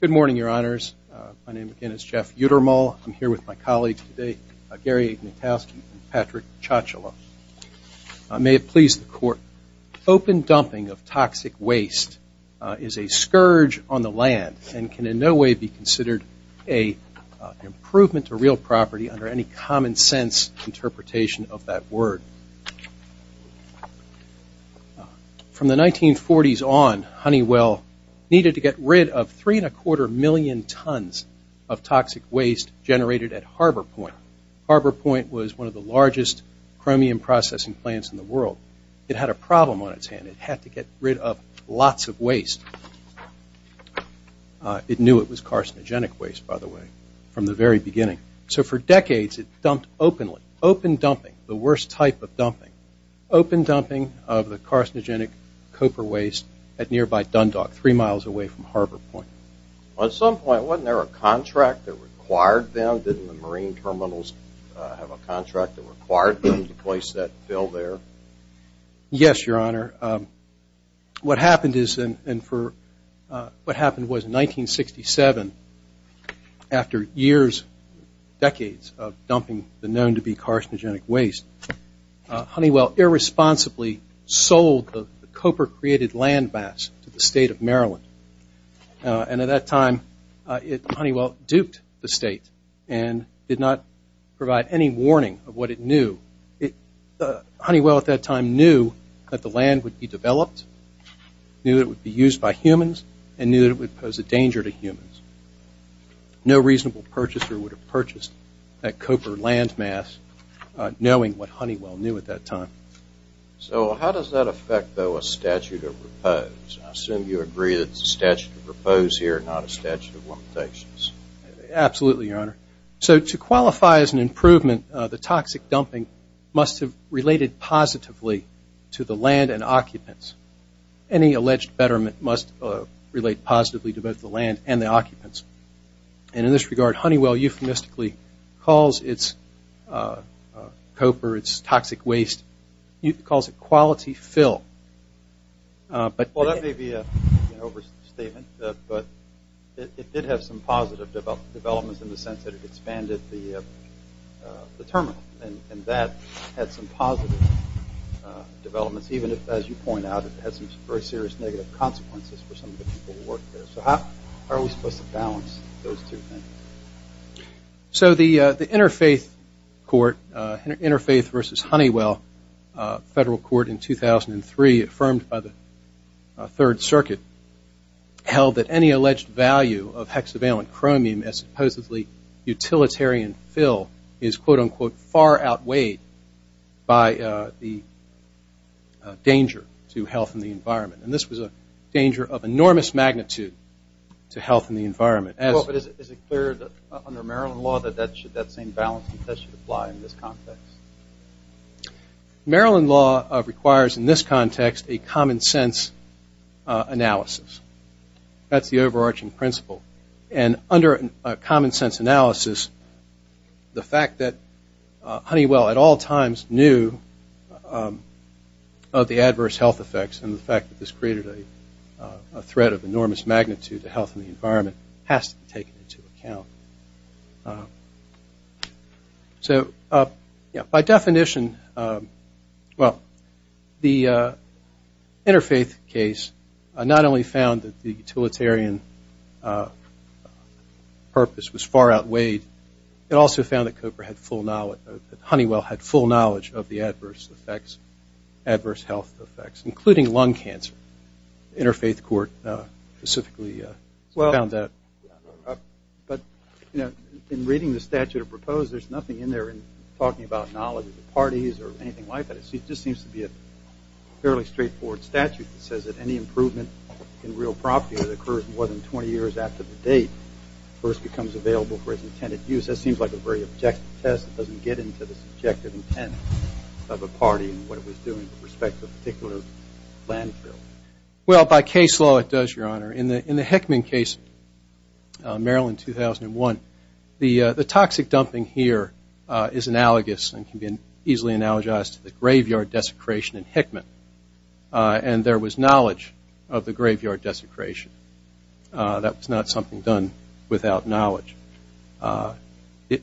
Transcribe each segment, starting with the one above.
Good morning, Your Honors. My name again is Jeff Uttermal. I'm here with my colleagues today, Gary Minkowski and Patrick Ciacciola. May it please the Court. Open dumping of toxic waste is a scourge on the land and can in no way be considered an improvement to real property under any common sense interpretation of that word. From the 1940s on, Honeywell needed to get rid of 3.25 million tons of toxic waste generated at Harbor Point. Harbor Point was one of the largest chromium processing plants in the world. It had a problem on its hand. It had to get rid of lots of waste. It knew it was carcinogenic waste, by the way, from the very beginning. So for decades, it dumped openly. Open dumping, the worst type of dumping. Open dumping of the carcinogenic copper waste at nearby Dundalk, three miles away from Harbor Point. At some point, wasn't there a contract that required them? Didn't the Marine terminals have a contract that required them to place that bill there? Yes, Your Honor. What happened was in 1967, after years, decades of dumping the known-to-be carcinogenic waste, Honeywell irresponsibly sold the copper-created landmass to the state of Maryland. And at that time, Honeywell duped the state and did not provide any warning of what it knew. Honeywell at that time knew that the land would be developed, knew that it would be used by humans, and knew that it would pose a danger to humans. No reasonable purchaser would have purchased that copper landmass knowing what Honeywell knew at that time. So how does that affect, though, a statute of repose? I assume you agree that it's a statute of repose here, not a statute of limitations. Absolutely, Your Honor. So to qualify as an improvement, the toxic dumping must have related positively to the land and occupants. Any alleged betterment must relate positively to both the land and the occupants. And in this regard, Honeywell euphemistically calls its copper, its toxic waste, calls it quality fill. Well, that may be an overstatement, but it did have some positive developments in the sense that it expanded the terminal. And that had some positive developments, even if, as you point out, it had some very serious negative consequences for some of the people who worked there. So how are we supposed to balance those two things? So the Interfaith Court, Interfaith v. Honeywell Federal Court in 2003, affirmed by the Third Circuit, held that any alleged value of hexavalent chromium as supposedly utilitarian fill is, quote, unquote, far outweighed by the danger to health and the environment. And this was a danger of enormous magnitude to health and the environment. Well, but is it clear under Maryland law that that same balance should apply in this context? Maryland law requires in this context a common sense analysis. That's the overarching principle. And under a common sense analysis, the fact that Honeywell at all times knew of the adverse health effects and the fact that this created a threat of enormous magnitude to health and the environment has to be taken into account. So by definition, well, the Interfaith case not only found that the utilitarian purpose was far outweighed, it also found that Cooper had full knowledge, that Honeywell had full knowledge of the adverse effects, adverse health effects, including lung cancer. Interfaith Court specifically found that. But, you know, in reading the statute of proposed, there's nothing in there talking about knowledge of the parties or anything like that. It just seems to be a fairly straightforward statute that says that any improvement in real property that occurs more than 20 years after the date first becomes available for its intended use. That seems like a very objective test. It doesn't get into the subjective intent of a party and what it was doing with respect to a particular landfill. Well, by case law it does, Your Honor. In the Hickman case, Maryland 2001, the toxic dumping here is analogous and can be easily analogized to the graveyard desecration in Hickman. And there was knowledge of the graveyard desecration. That was not something done without knowledge.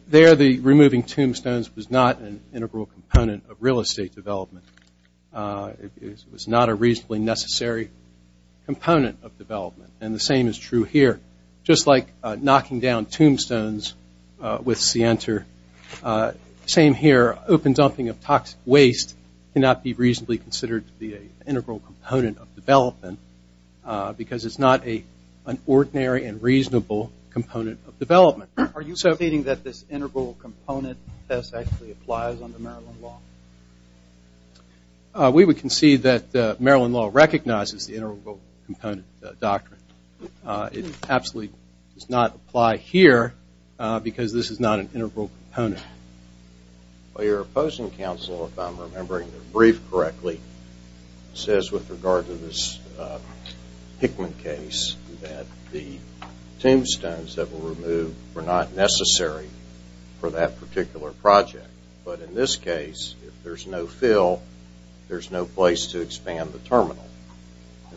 There, the removing tombstones was not an integral component of real estate development. It was not a reasonably necessary component of development. And the same is true here. Just like knocking down tombstones with Sienter, same here. Open dumping of toxic waste cannot be reasonably considered to be an integral component of development because it's not an ordinary and reasonable component of development. Are you conceding that this integral component test actually applies under Maryland law? We would concede that Maryland law recognizes the integral component doctrine. It absolutely does not apply here because this is not an integral component. Your opposing counsel, if I'm remembering the brief correctly, says with regard to this Hickman case that the tombstones that were removed were not necessary for that particular project. But in this case, if there's no fill, there's no place to expand the terminal.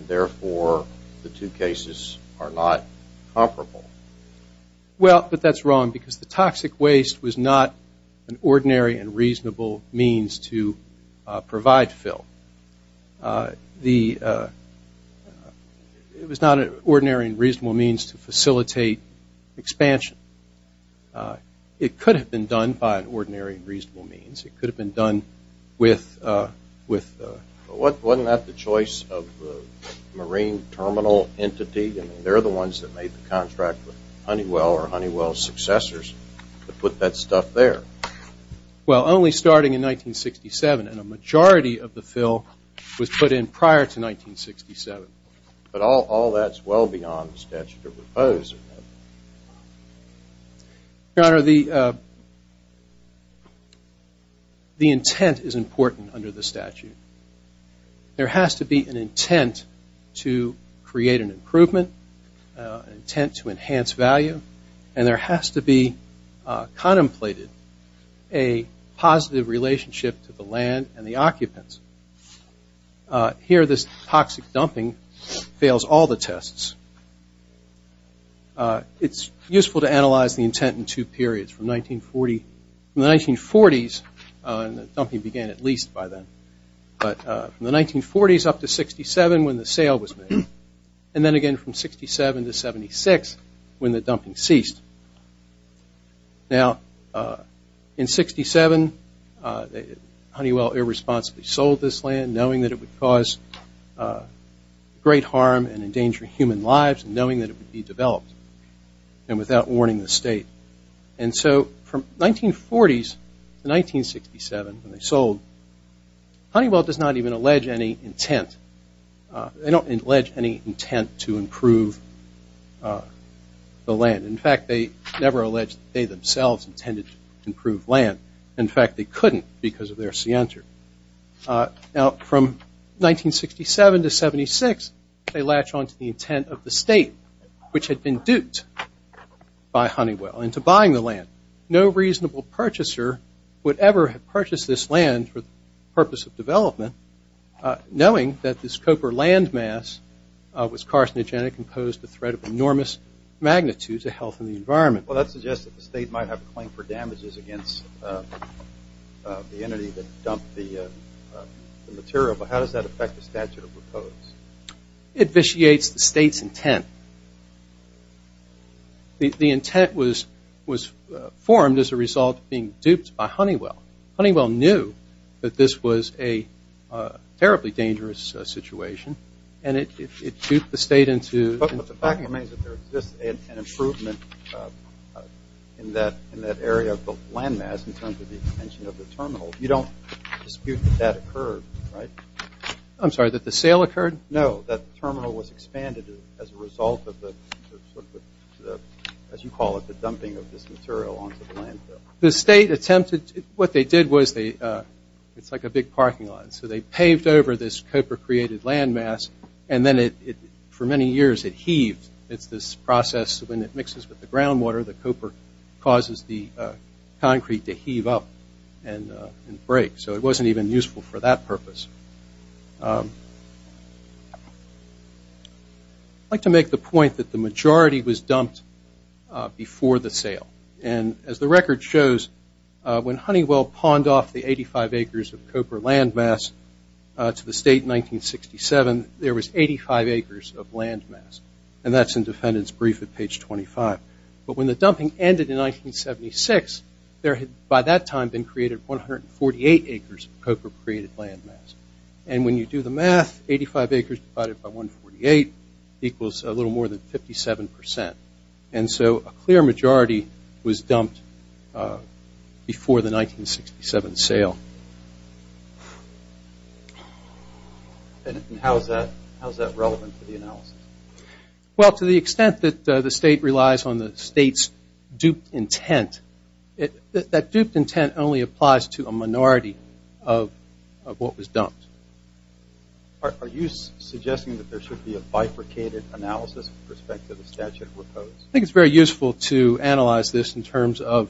Therefore, the two cases are not comparable. Well, but that's wrong because the toxic waste was not an ordinary and reasonable means to provide fill. It was not an ordinary and reasonable means to facilitate expansion. It could have been done by an ordinary and reasonable means. It could have been done with... Wasn't that the choice of the marine terminal entity? I mean, they're the ones that made the contract with Honeywell or Honeywell's successors to put that stuff there. Well, only starting in 1967, and a majority of the fill was put in prior to 1967. But all that's well beyond the statute of repose. Your Honor, the intent is important under the statute. There has to be an intent to create an improvement, an intent to enhance value, and there has to be contemplated a positive relationship to the land and the occupants. Here, this toxic dumping fails all the tests. It's useful to analyze the intent in two periods. From the 1940s, and the dumping began at least by then, but from the 1940s up to 67 when the sale was made, and then again from 67 to 76 when the dumping ceased. Now, in 67, Honeywell irresponsibly sold this land, knowing that it would cause great harm and endanger human lives, and knowing that it would be developed, and without warning the state. And so from 1940s to 1967 when they sold, Honeywell does not even allege any intent. They don't allege any intent to improve the land. In fact, they never allege that they themselves intended to improve land. In fact, they couldn't because of their scienter. Now, from 1967 to 76, they latch on to the intent of the state, which had been duped by Honeywell into buying the land. No reasonable purchaser would ever have purchased this land for the purpose of development, knowing that this copper landmass was carcinogenic and posed a threat of enormous magnitude to health and the environment. Well, that suggests that the state might have a claim for damages against the entity that dumped the material, but how does that affect the statute of repose? It vitiates the state's intent. The intent was formed as a result of being duped by Honeywell. Honeywell knew that this was a terribly dangerous situation, and it duped the state into— But the fact remains that there exists an improvement in that area of the landmass in terms of the expansion of the terminal. You don't dispute that that occurred, right? I'm sorry, that the sale occurred? No, that the terminal was expanded as a result of the, as you call it, the dumping of this material onto the landfill. The state attempted—what they did was they—it's like a big parking lot. So they paved over this copper-created landmass, and then it, for many years, it heaved. It's this process, when it mixes with the groundwater, the copper causes the concrete to heave up and break. So it wasn't even useful for that purpose. I'd like to make the point that the majority was dumped before the sale. And as the record shows, when Honeywell pawned off the 85 acres of copper landmass to the state in 1967, there was 85 acres of landmass. And that's in defendant's brief at page 25. But when the dumping ended in 1976, there had, by that time, been created 148 acres of copper-created landmass. And when you do the math, 85 acres divided by 148 equals a little more than 57 percent. And so a clear majority was dumped before the 1967 sale. And how is that relevant to the analysis? Well, to the extent that the state relies on the state's duped intent, that duped intent only applies to a minority of what was dumped. Are you suggesting that there should be a bifurcated analysis with respect to the statute proposed? I think it's very useful to analyze this in terms of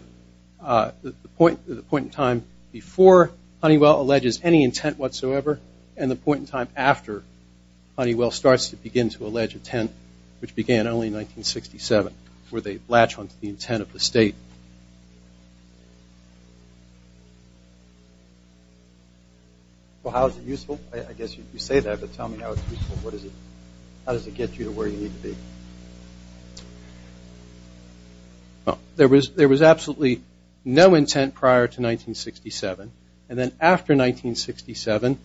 the point in time before Honeywell alleges any intent whatsoever and the point in time after Honeywell starts to begin to allege intent, which began only in 1967, where they latch onto the intent of the state. Well, how is it useful? I guess you say that, but tell me how it's useful. How does it get you to where you need to be? Well, there was absolutely no intent prior to 1967. And then after 1967,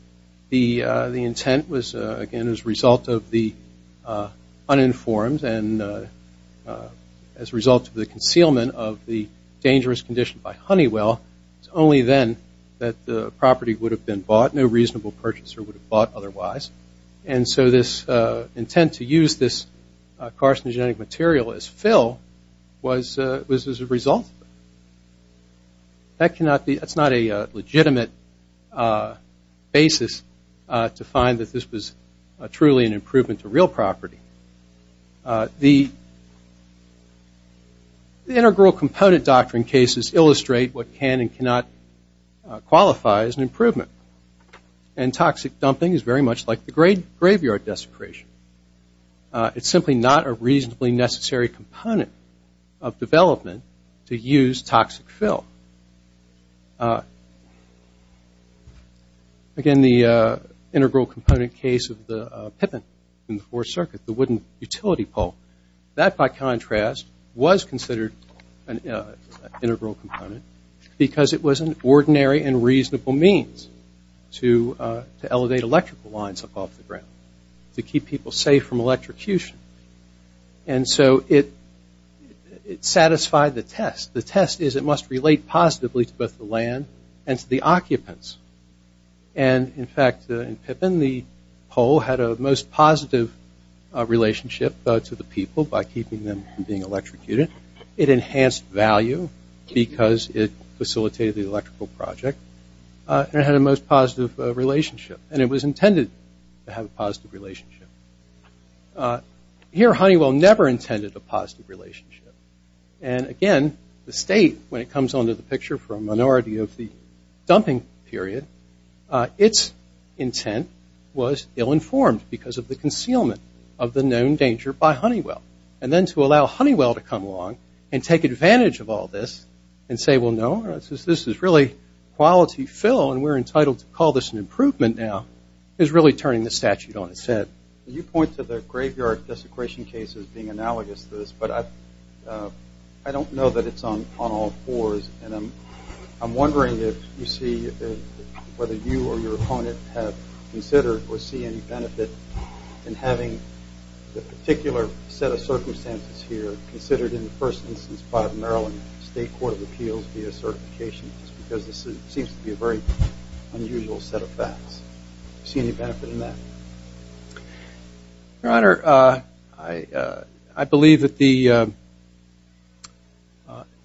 the intent was, again, as a result of the uninformed and as a result of the concealment of the dangerous condition by Honeywell, it's only then that the property would have been bought. No reasonable purchaser would have bought otherwise. And so this intent to use this carcinogenic material as fill was as a result of it. That's not a legitimate basis to find that this was truly an improvement to real property. The integral component doctrine cases illustrate what can and cannot qualify as an improvement. And toxic dumping is very much like the graveyard desecration. It's simply not a reasonably necessary component of development to use toxic fill. Again, the integral component case of the Pippin in the Fourth Circuit, the wooden utility pole, that, by contrast, was considered an integral component because it was an ordinary and reasonable means to elevate electrical lines up off the ground to keep people safe from electrocution. And so it satisfied the test. The test is it must relate positively to both the land and to the occupants. And, in fact, in Pippin, the pole had a most positive relationship to the people by keeping them from being electrocuted. It enhanced value because it facilitated the electrical project. And it had a most positive relationship. And it was intended to have a positive relationship. Here, Honeywell never intended a positive relationship. And, again, the state, when it comes onto the picture for a minority of the dumping period, its intent was ill-informed because of the concealment of the known danger by Honeywell. And then to allow Honeywell to come along and take advantage of all this and say, well, no, this is really quality fill, and we're entitled to call this an improvement now, is really turning the statute on its head. You point to the graveyard desecration case as being analogous to this, but I don't know that it's on all fours. And I'm wondering if you see whether you or your opponent have considered or see any benefit in having the particular set of circumstances here considered in the first instance by the Maryland State Court of Appeals via certification, just because this seems to be a very unusual set of facts. Do you see any benefit in that? Your Honor, I believe that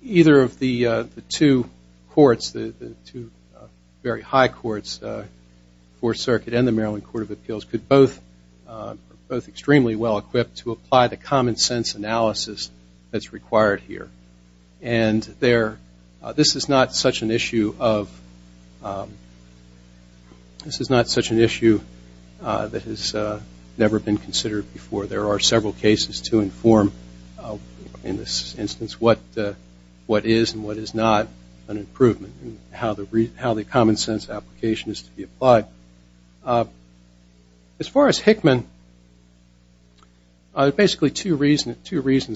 either of the two courts, the two very high courts, the Fourth Circuit and the Maryland Court of Appeals, could both be extremely well-equipped to apply the common sense analysis that's required here. And this is not such an issue that has never been considered before. There are several cases to inform in this instance what is and what is not an improvement and how the common sense application is to be applied. As far as Hickman, there are basically two reasons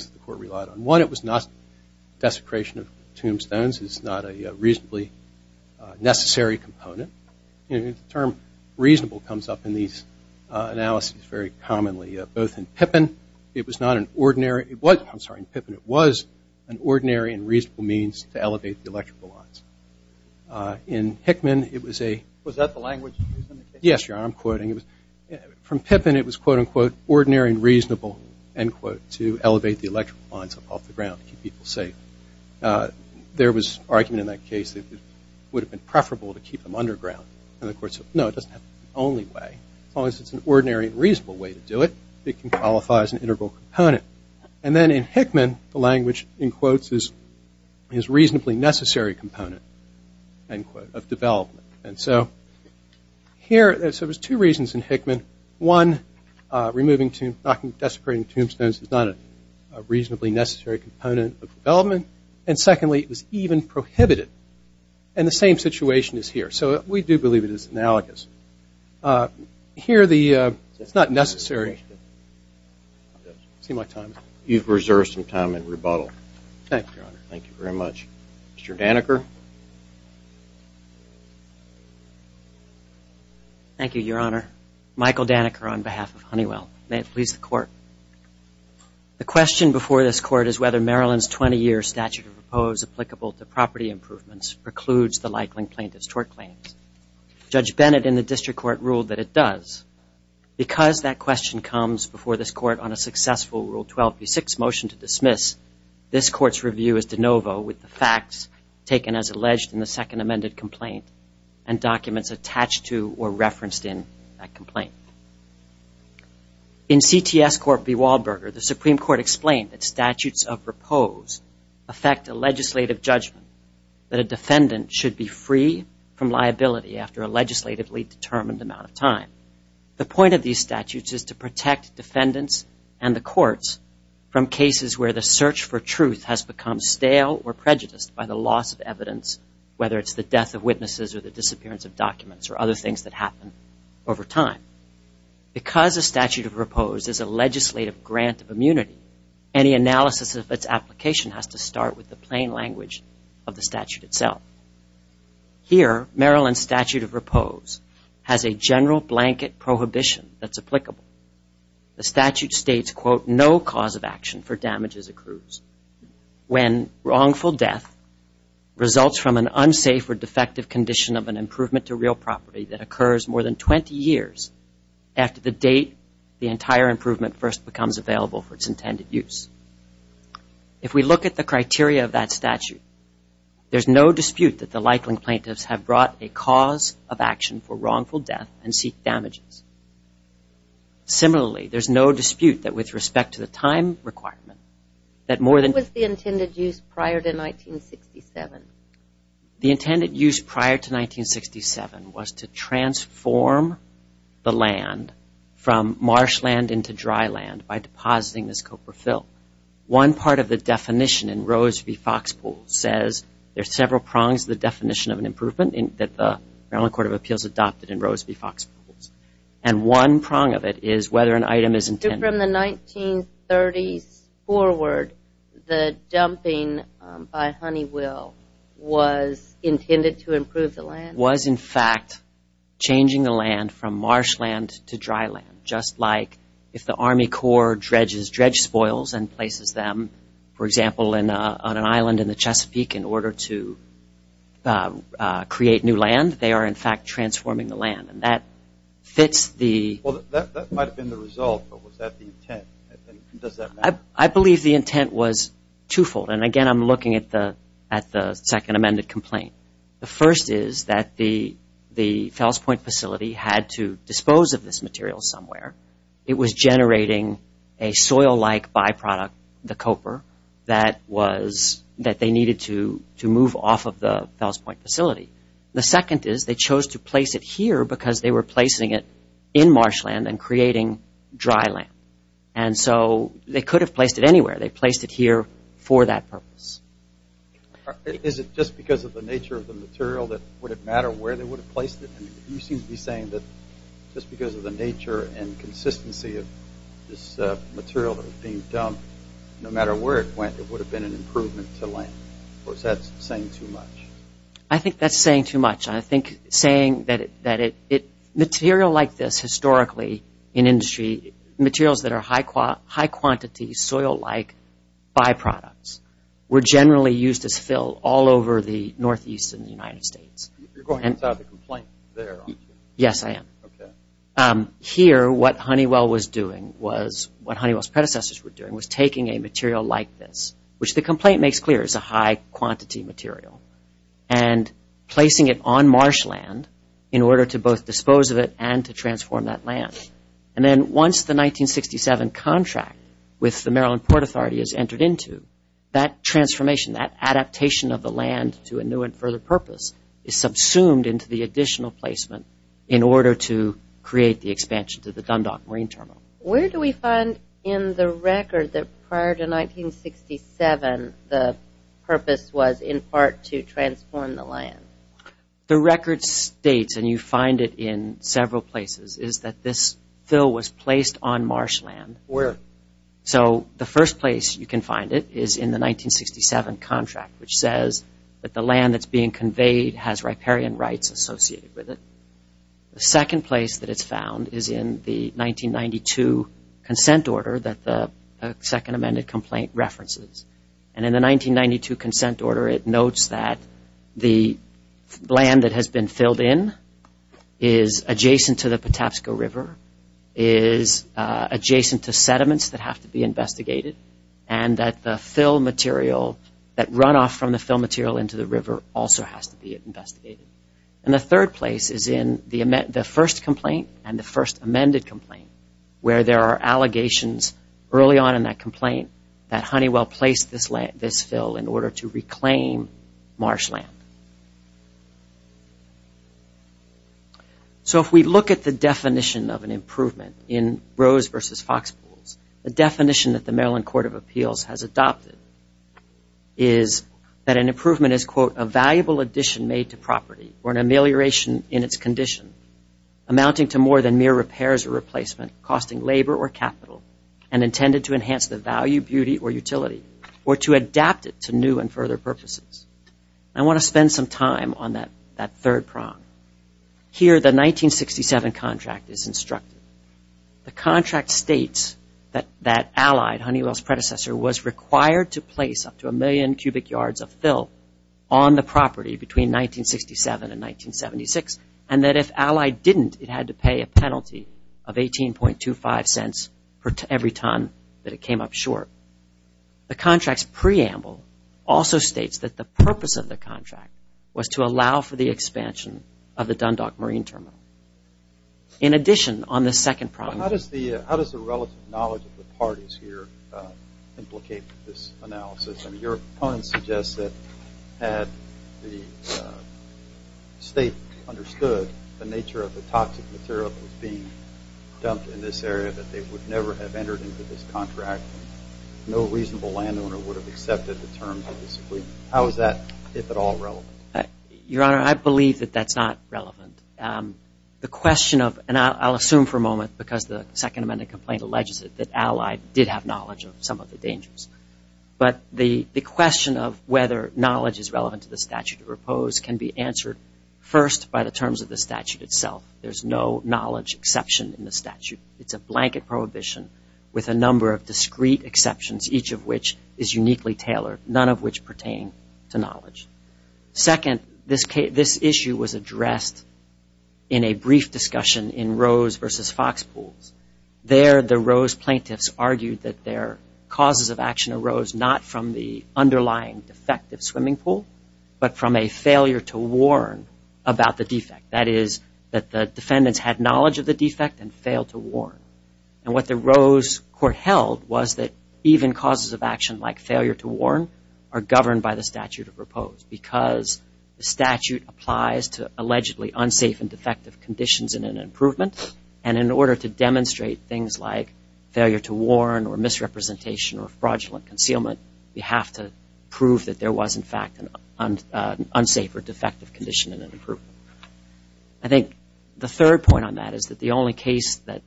the court relied on. One, it was not desecration of tombstones. It's not a reasonably necessary component. The term reasonable comes up in these analyses very commonly, both in Pippin. It was not an ordinary – I'm sorry, in Pippin, it was an ordinary and reasonable means to elevate the electrical lines. In Hickman, it was a – Was that the language used in the case? Yes, Your Honor, I'm quoting. From Pippin, it was, quote, unquote, ordinary and reasonable, end quote, to elevate the electrical lines up off the ground to keep people safe. There was argument in that case that it would have been preferable to keep them underground. And the court said, no, it doesn't have to be the only way. As long as it's an ordinary and reasonable way to do it, it can qualify as an integral component. And then in Hickman, the language, in quotes, is reasonably necessary component, end quote, of development. And so here – so there's two reasons in Hickman. One, removing – desecrating tombstones is not a reasonably necessary component of development. And secondly, it was even prohibited. And the same situation is here. So we do believe it is analogous. Here, the – it's not necessary. It seemed like time. You've reserved some time in rebuttal. Thank you, Your Honor. Thank you very much. Mr. Daneker. Thank you, Your Honor. Michael Daneker on behalf of Honeywell. May it please the court. The question before this court is whether Maryland's 20-year statute of repose applicable to property improvements precludes the likeling plaintiff's tort claims. Judge Bennett in the district court ruled that it does. Because that question comes before this court on a successful Rule 12b-6 motion to dismiss, this court's review is de novo with the facts taken as alleged in the second amended complaint and documents attached to or referenced in that complaint. In CTS Court v. Wahlberger, the Supreme Court explained that statutes of repose affect a legislative judgment that a defendant should be free from liability after a legislatively determined amount of time. The point of these statutes is to protect defendants and the courts from cases where the search for truth has become stale or prejudiced by the loss of evidence, whether it's the death of witnesses or the disappearance of documents or other things that happen over time. Because a statute of repose is a legislative grant of immunity, any analysis of its application has to start with the plain language of the statute itself. Here, Maryland's statute of repose has a general blanket prohibition that's applicable. The statute states, quote, no cause of action for damages accrues when wrongful death results from an unsafe or defective condition of an improvement to real property that occurs more than 20 years after the date the entire improvement first becomes available for its intended use. If we look at the criteria of that statute, there's no dispute that the likeling plaintiffs have brought a cause of action for wrongful death and seek damages. Similarly, there's no dispute that with respect to the time requirement, that more than- What was the intended use prior to 1967? The intended use prior to 1967 was to transform the land from marshland into dry land by depositing this copra fill. One part of the definition in Rose v. Foxpools says there's several prongs to the definition of an improvement that the Maryland Court of Appeals adopted in Rose v. Foxpools. And one prong of it is whether an item is intended- So from the 1930s forward, the dumping by Honeywell was intended to improve the land? Was, in fact, changing the land from marshland to dry land, just like if the Army Corps dredges dredge spoils and places them, for example, on an island in the Chesapeake in order to create new land, they are, in fact, transforming the land. And that fits the- Well, that might have been the result, but was that the intent? Does that matter? I believe the intent was twofold. And, again, I'm looking at the second amended complaint. The first is that the Fells Point facility had to dispose of this material somewhere. It was generating a soil-like byproduct, the copper, that they needed to move off of the Fells Point facility. The second is they chose to place it here because they were placing it in marshland and creating dry land. And so they could have placed it anywhere. They placed it here for that purpose. Is it just because of the nature of the material that would it matter where they would have placed it? You seem to be saying that just because of the nature and consistency of this material that was being dumped, no matter where it went, it would have been an improvement to land. Or is that saying too much? I think that's saying too much. I think saying that material like this historically in industry, materials that are high-quantity, soil-like byproducts, were generally used as fill all over the Northeast and the United States. You're going without a complaint there, aren't you? Yes, I am. Okay. Here, what Honeywell was doing was, what Honeywell's predecessors were doing, was taking a material like this, which the complaint makes clear is a high-quantity material, and placing it on marshland in order to both dispose of it and to transform that land. And then once the 1967 contract with the Maryland Port Authority is entered into, that transformation, that adaptation of the land to a new and further purpose, is subsumed into the additional placement in order to create the expansion to the Dundalk Marine Terminal. Where do we find in the record that prior to 1967 the purpose was in part to transform the land? The record states, and you find it in several places, is that this fill was placed on marshland. Where? So the first place you can find it is in the 1967 contract, which says that the land that's being conveyed has riparian rights associated with it. The second place that it's found is in the 1992 consent order that the second amended complaint references. And in the 1992 consent order, it notes that the land that has been filled in is adjacent to the Patapsco River, is adjacent to sediments that have to be investigated, and that the fill material, that runoff from the fill material into the river also has to be investigated. And the third place is in the first complaint and the first amended complaint, where there are allegations early on in that complaint that Honeywell placed this fill in order to reclaim marshland. So if we look at the definition of an improvement in Rose versus Foxpools, the definition that the Maryland Court of Appeals has adopted is that an improvement is, quote, a valuable addition made to property or an amelioration in its condition, amounting to more than mere repairs or replacement, costing labor or capital, and intended to enhance the value, beauty, or utility, or to adapt it to new and further purposes. I want to spend some time on that third prong. Here, the 1967 contract is instructed. The contract states that Allied, Honeywell's predecessor, was required to place up to a million cubic yards of fill on the property between 1967 and 1976, and that if Allied didn't, it had to pay a penalty of 18.25 cents for every ton that it came up short. The contract's preamble also states that the purpose of the contract was to allow for the expansion of the Dundalk Marine Terminal. In addition, on the second prong. How does the relative knowledge of the parties here implicate this analysis? I mean, your opponent suggests that had the state understood the nature of the toxic material that was being dumped in this area, that they would never have entered into this contract. No reasonable landowner would have accepted the terms of this agreement. How is that, if at all, relevant? Your Honor, I believe that that's not relevant. The question of, and I'll assume for a moment because the Second Amendment complaint alleges it, that Allied did have knowledge of some of the dangers, but the question of whether knowledge is relevant to the statute of repose can be answered first by the terms of the statute itself. There's no knowledge exception in the statute. It's a blanket prohibition with a number of discrete exceptions, each of which is uniquely tailored, none of which pertain to knowledge. Second, this issue was addressed in a brief discussion in Rose v. Fox Pools. There, the Rose plaintiffs argued that their causes of action arose not from the underlying defect of swimming pool, but from a failure to warn about the defect. That is, that the defendants had knowledge of the defect and failed to warn. And what the Rose court held was that even causes of action like failure to warn are governed by the statute of repose because the statute applies to allegedly unsafe and defective conditions in an improvement, and in order to demonstrate things like failure to warn or misrepresentation or fraudulent concealment, you have to prove that there was, in fact, an unsafe or defective condition in an improvement. I think the third point on that is that the only case that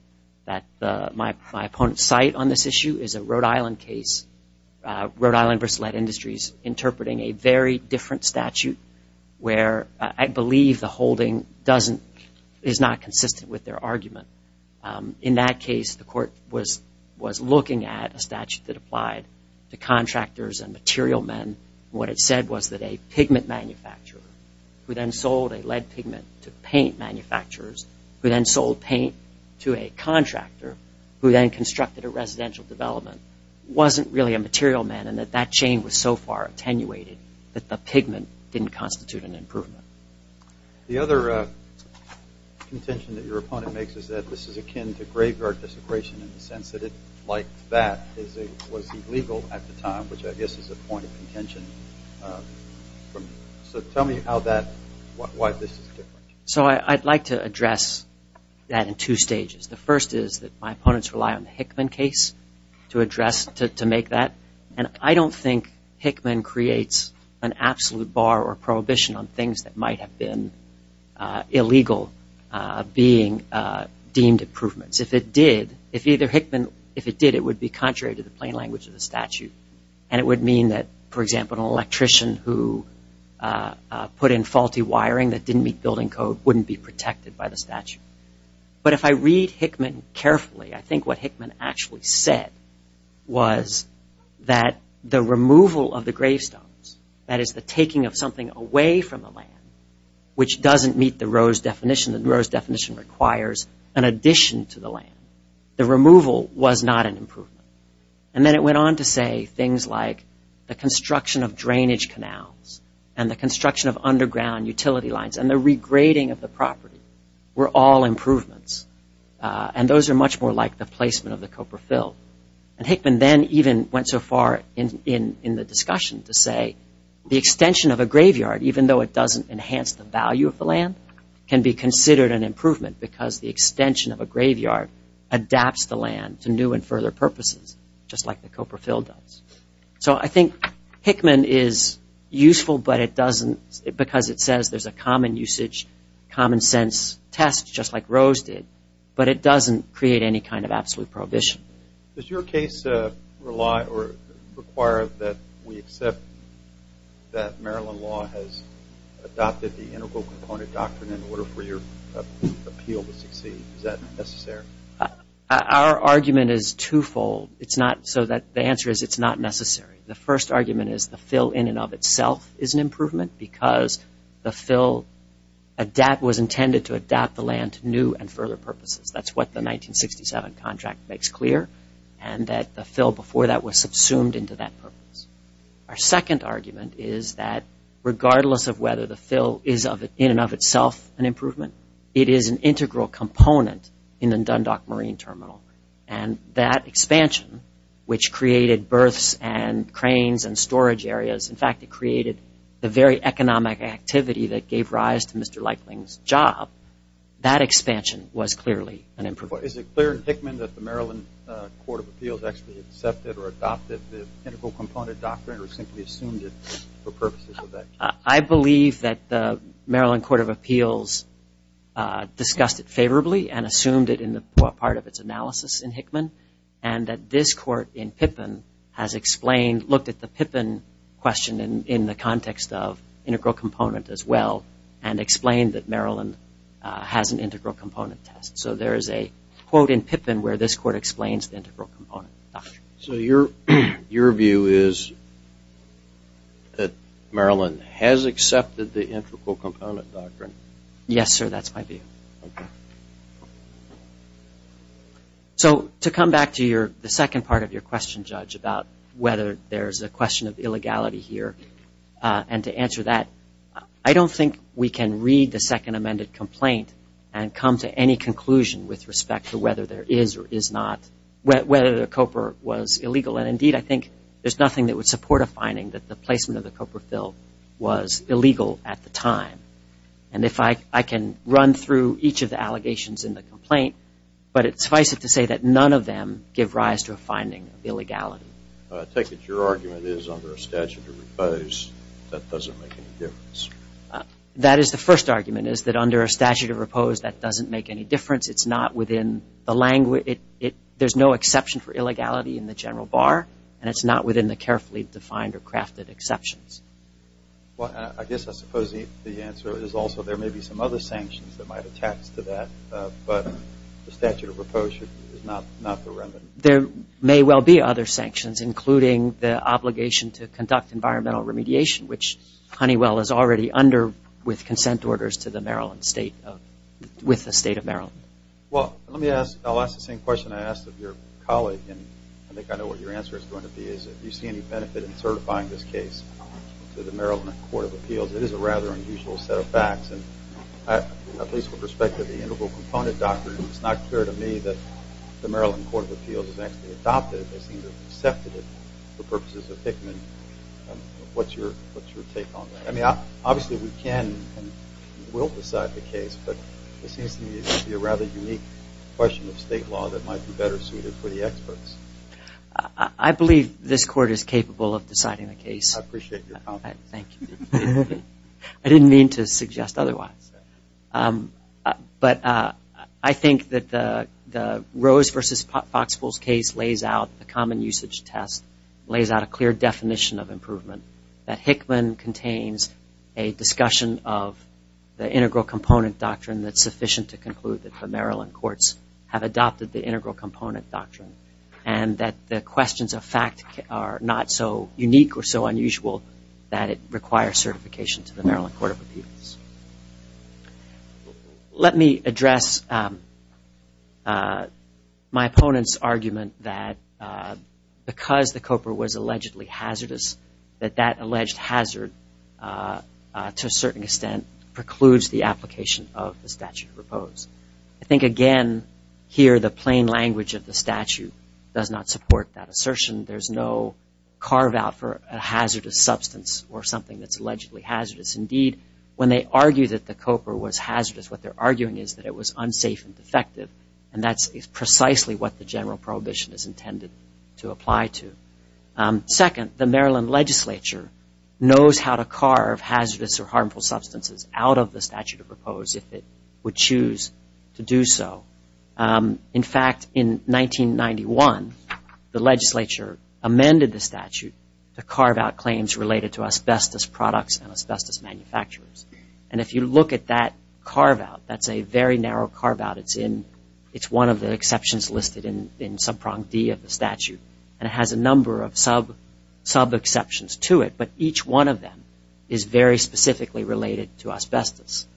my opponents cite on this issue is a Rhode Island case, Rhode Island v. Lead Industries, interpreting a very different statute where I believe the holding is not consistent with their argument. In that case, the court was looking at a statute that applied to contractors and material men. What it said was that a pigment manufacturer, who then sold a lead pigment to paint manufacturers, who then sold paint to a contractor, who then constructed a residential development, wasn't really a material man and that that chain was so far attenuated that the pigment didn't constitute an improvement. The other contention that your opponent makes is that this is akin to graveyard desecration in the sense that it, like that, was illegal at the time, which I guess is a point of contention. So tell me how that, why this is different. So I'd like to address that in two stages. The first is that my opponents rely on the Hickman case to address, to make that, and I don't think Hickman creates an absolute bar or prohibition on things that might have been illegal being deemed improvements. If it did, if either Hickman, if it did, it would be contrary to the plain language of the statute and it would mean that, for example, an electrician who put in faulty wiring that didn't meet building code wouldn't be protected by the statute. But if I read Hickman carefully, I think what Hickman actually said was that the removal of the gravestones, that is the taking of something away from the land, which doesn't meet the Rose definition, the Rose definition requires an addition to the land, the removal was not an improvement. And then it went on to say things like the construction of drainage canals and the construction of underground utility lines and the regrading of the property were all improvements and those are much more like the placement of the copra fill. And Hickman then even went so far in the discussion to say the extension of a graveyard, even though it doesn't enhance the value of the land, can be considered an improvement because the extension of a graveyard adapts the land to new and further purposes, just like the copra fill does. So I think Hickman is useful, but it doesn't, because it says there's a common usage, common sense test just like Rose did, but it doesn't create any kind of absolute prohibition. Does your case require that we accept that Maryland law has adopted the integral component doctrine in order for your appeal to succeed? Is that necessary? Our argument is twofold. The answer is it's not necessary. The first argument is the fill in and of itself is an improvement because the fill was intended to adapt the land to new and further purposes. That's what the 1967 contract makes clear and that the fill before that was subsumed into that purpose. Our second argument is that regardless of whether the fill is in and of itself an improvement, it is an integral component in the Dundalk Marine Terminal and that expansion, which created berths and cranes and storage areas, in fact, it created the very economic activity that gave rise to Mr. Leikling's job, that expansion was clearly an improvement. Is it clear in Hickman that the Maryland Court of Appeals actually accepted or adopted the integral component doctrine or simply assumed it for purposes of that case? I believe that the Maryland Court of Appeals discussed it favorably and assumed it in part of its analysis in Hickman and that this court in Pippin has looked at the Pippin question in the context of integral component as well and explained that Maryland has an integral component test. So there is a quote in Pippin where this court explains the integral component. So your view is that Maryland has accepted the integral component doctrine? Yes, sir, that's my view. Thank you. So to come back to the second part of your question, Judge, about whether there's a question of illegality here and to answer that, I don't think we can read the second amended complaint and come to any conclusion with respect to whether there is or is not, whether the COPR was illegal, and indeed I think there's nothing that would support a finding that the placement of the COPR fill was illegal at the time. And if I can run through each of the allegations in the complaint, but it's suffice it to say that none of them give rise to a finding of illegality. I take it your argument is under a statute of repose that doesn't make any difference. That is the first argument, is that under a statute of repose that doesn't make any difference. It's not within the language. There's no exception for illegality in the general bar and it's not within the carefully defined or crafted exceptions. Well, I guess I suppose the answer is also there may be some other sanctions that might attach to that, but the statute of repose is not the remedy. There may well be other sanctions, including the obligation to conduct environmental remediation, which Honeywell is already under with consent orders to the Maryland State, with the State of Maryland. Well, let me ask, I'll ask the same question I asked of your colleague, and I think I know what your answer is going to be, is if you see any benefit in certifying this case to the Maryland Court of Appeals. It is a rather unusual set of facts, and at least with respect to the integral component doctrine, it's not clear to me that the Maryland Court of Appeals has actually adopted it. They seem to have accepted it for purposes of Hickman. What's your take on that? I mean, obviously we can and will decide the case, but it seems to me it would be a rather unique question of state law that might be better suited for the experts. I believe this court is capable of deciding the case. I appreciate your confidence. Thank you. I didn't mean to suggest otherwise. But I think that the Rose versus Foxpools case lays out the common usage test, lays out a clear definition of improvement, that Hickman contains a discussion of the integral component doctrine that's sufficient to conclude that the Maryland courts have adopted the integral component doctrine and that the questions of fact are not so unique or so unusual that it requires certification to the Maryland Court of Appeals. Let me address my opponent's argument that because the COPER was allegedly hazardous, that that alleged hazard, to a certain extent, precludes the application of the statute of repose. I think, again, here the plain language of the statute does not support that assertion. There's no carve-out for a hazardous substance or something that's allegedly hazardous. Indeed, when they argue that the COPER was hazardous, what they're arguing is that it was unsafe and defective, and that's precisely what the general prohibition is intended to apply to. Second, the Maryland legislature knows how to carve hazardous or harmful substances out of the statute of repose if it would choose to do so. In fact, in 1991, the legislature amended the statute to carve out claims related to asbestos products and asbestos manufacturers. And if you look at that carve-out, that's a very narrow carve-out. It's one of the exceptions listed in subprong D of the statute, and it has a number of sub-exceptions to it, but each one of them is very specifically related to asbestos.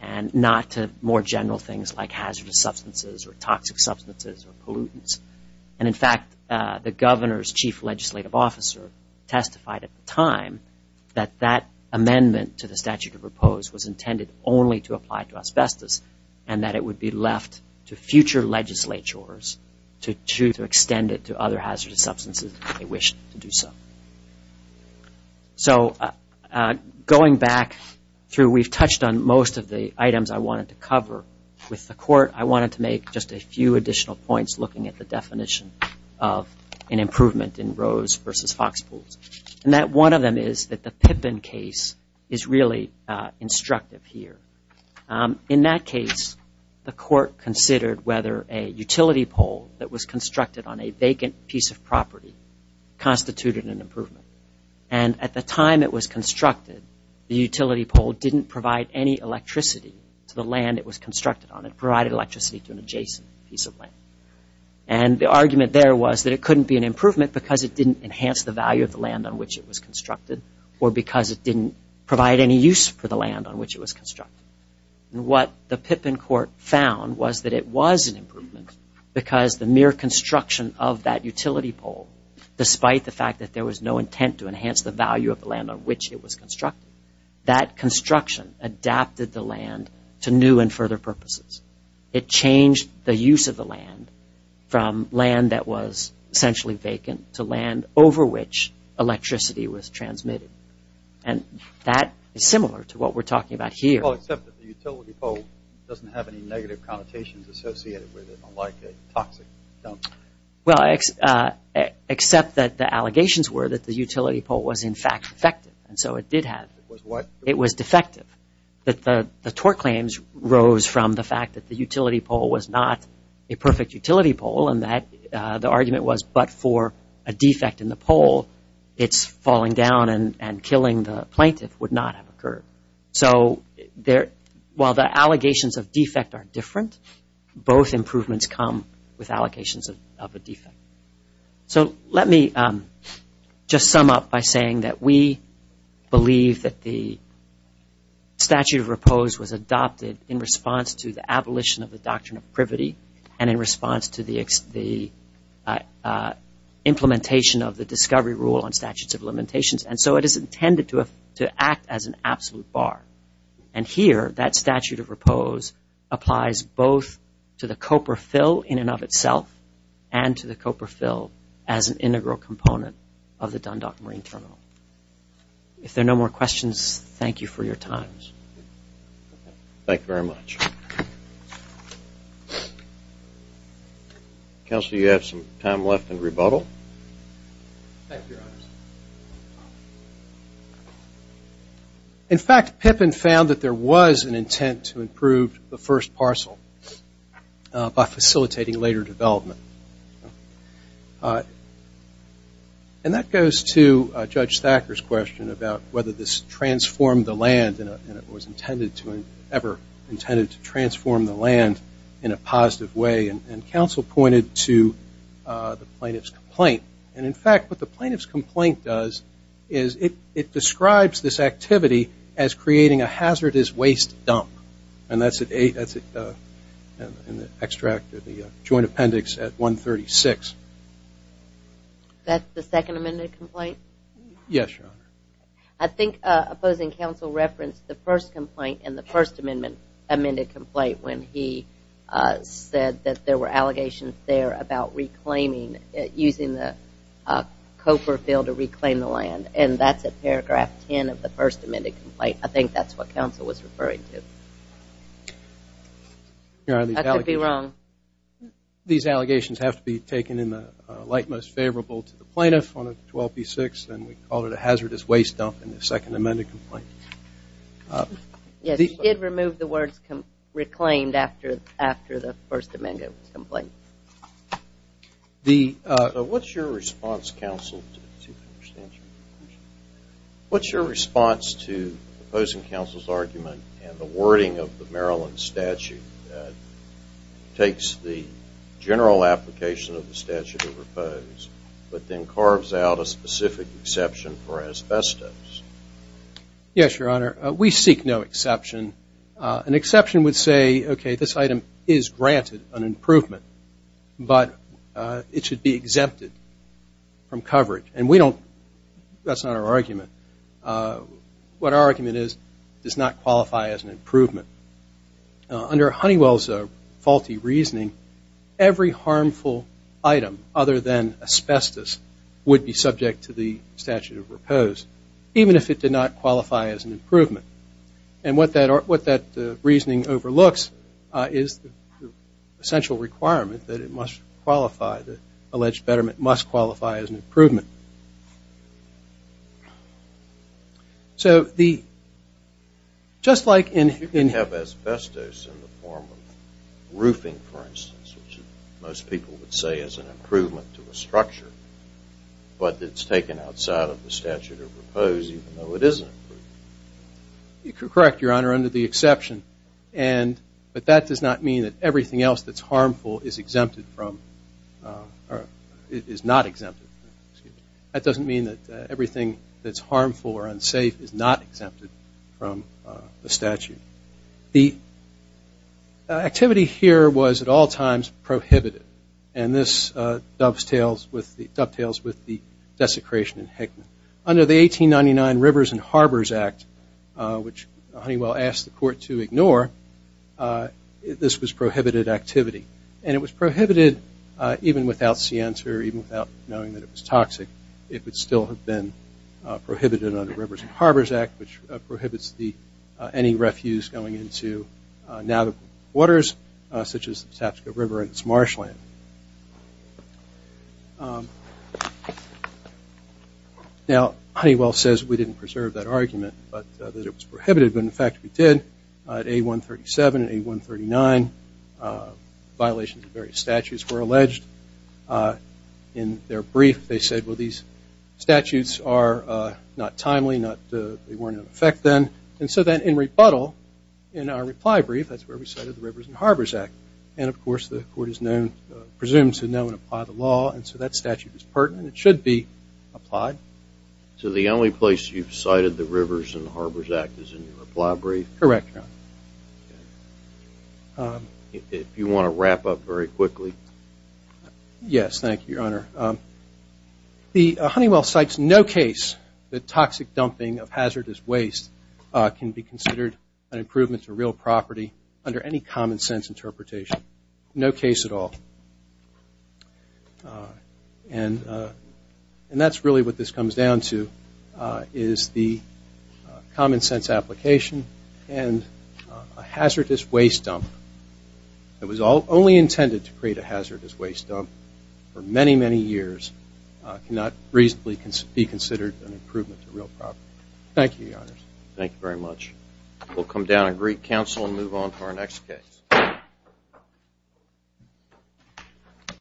And not to more general things like hazardous substances or toxic substances or pollutants. And in fact, the governor's chief legislative officer testified at the time that that amendment to the statute of repose was intended only to apply to asbestos, and that it would be left to future legislatures to choose to extend it to other hazardous substances if they wished to do so. So going back through, we've touched on most of the items I wanted to cover with the court. I wanted to make just a few additional points looking at the definition of an improvement in Rose versus Foxpools. And that one of them is that the Pippin case is really instructive here. In that case, the court considered whether a utility pole that was constructed on a vacant piece of property constituted an improvement. And at the time it was constructed, the utility pole didn't provide any electricity to the land it was constructed on. It provided electricity to an adjacent piece of land. And the argument there was that it couldn't be an improvement because it didn't enhance the value of the land on which it was constructed or because it didn't provide any use for the land on which it was constructed. And what the Pippin court found was that it was an improvement because the mere construction of that utility pole, despite the fact that there was no intent to enhance the value of the land on which it was constructed, that construction adapted the land to new and further purposes. It changed the use of the land from land that was essentially vacant to land over which electricity was transmitted. And that is similar to what we're talking about here. Well, except that the utility pole doesn't have any negative connotations associated with it like a toxic dump. Well, except that the allegations were that the utility pole was in fact effective. And so it did have. It was what? It was defective. The tort claims rose from the fact that the utility pole was not a perfect utility pole and that the argument was but for a defect in the pole, it's falling down and killing the plaintiff would not have occurred. So while the allegations of defect are different, both improvements come with allocations of a defect. So let me just sum up by saying that we believe that the statute of repose was adopted in response to the abolition of the doctrine of privity and in response to the implementation of the discovery rule on statutes of limitations. And so it is intended to act as an absolute bar. And here, that statute of repose applies both to the COPER fill in and of itself and to the COPER fill as an integral component of the Dundalk Marine Terminal. If there are no more questions, thank you for your time. Thank you very much. Counsel, you have some time left in rebuttal. Thank you, Your Honors. In fact, Pippin found that there was an intent to improve the first parcel by facilitating later development. And that goes to Judge Thacker's question about whether this transformed the land and it was ever intended to transform the land in a positive way. And counsel pointed to the plaintiff's complaint. And, in fact, what the plaintiff's complaint does is it describes this activity as creating a hazardous waste dump. And that's in the joint appendix at 136. That's the second amended complaint? Yes, Your Honor. I think opposing counsel referenced the first complaint and the first amended complaint when he said that there were allegations there about reclaiming using the COPER fill to reclaim the land. And that's at paragraph 10 of the first amended complaint. I think that's what counsel was referring to. I could be wrong. These allegations have to be taken in the light most favorable to the plaintiff on 12B6 and we call it a hazardous waste dump in the second amended complaint. Yes, he did remove the words reclaimed after the first amended complaint. What's your response, counsel, to opposing counsel's argument and the wording of the Maryland statute that takes the general application but then carves out a specific exception for asbestos? Yes, Your Honor. We seek no exception. An exception would say, okay, this item is granted an improvement, but it should be exempted from coverage. And we don't – that's not our argument. What our argument is it does not qualify as an improvement. Under Honeywell's faulty reasoning, every harmful item other than asbestos would be subject to the statute of repose, even if it did not qualify as an improvement. And what that reasoning overlooks is the essential requirement that it must qualify, So the – just like in – You can have asbestos in the form of roofing, for instance, which most people would say is an improvement to a structure, but it's taken outside of the statute of repose even though it is an improvement. Correct, Your Honor, under the exception. But that does not mean that everything else that's harmful is exempted from – or is not exempted. That doesn't mean that everything that's harmful or unsafe is not exempted from the statute. The activity here was at all times prohibited, and this dovetails with the desecration in Hickman. Under the 1899 Rivers and Harbors Act, which Honeywell asked the court to ignore, this was prohibited activity. And it was prohibited even without scienter, even without knowing that it was toxic. It would still have been prohibited under Rivers and Harbors Act, which prohibits any refuse going into navigable waters, such as the Sapsco River and its marshland. Now, Honeywell says we didn't preserve that argument, but that it was prohibited. But, in fact, we did at A137 and A139. Violations of various statutes were alleged. In their brief, they said, well, these statutes are not timely. They weren't in effect then. And so then in rebuttal, in our reply brief, that's where we cited the Rivers and Harbors Act. And, of course, the court is presumed to know and apply the law, and so that statute is pertinent. It should be applied. So the only place you've cited the Rivers and Harbors Act is in your reply brief? Correct, Your Honor. If you want to wrap up very quickly. Yes, thank you, Your Honor. The Honeywell cites no case that toxic dumping of hazardous waste can be considered an improvement to real property under any common sense interpretation. No case at all. And that's really what this comes down to is the common sense application and a hazardous waste dump that was only intended to create a hazardous waste dump for many, many years, cannot reasonably be considered an improvement to real property. Thank you, Your Honors. Thank you very much. We'll come down and greet counsel and move on to our next case.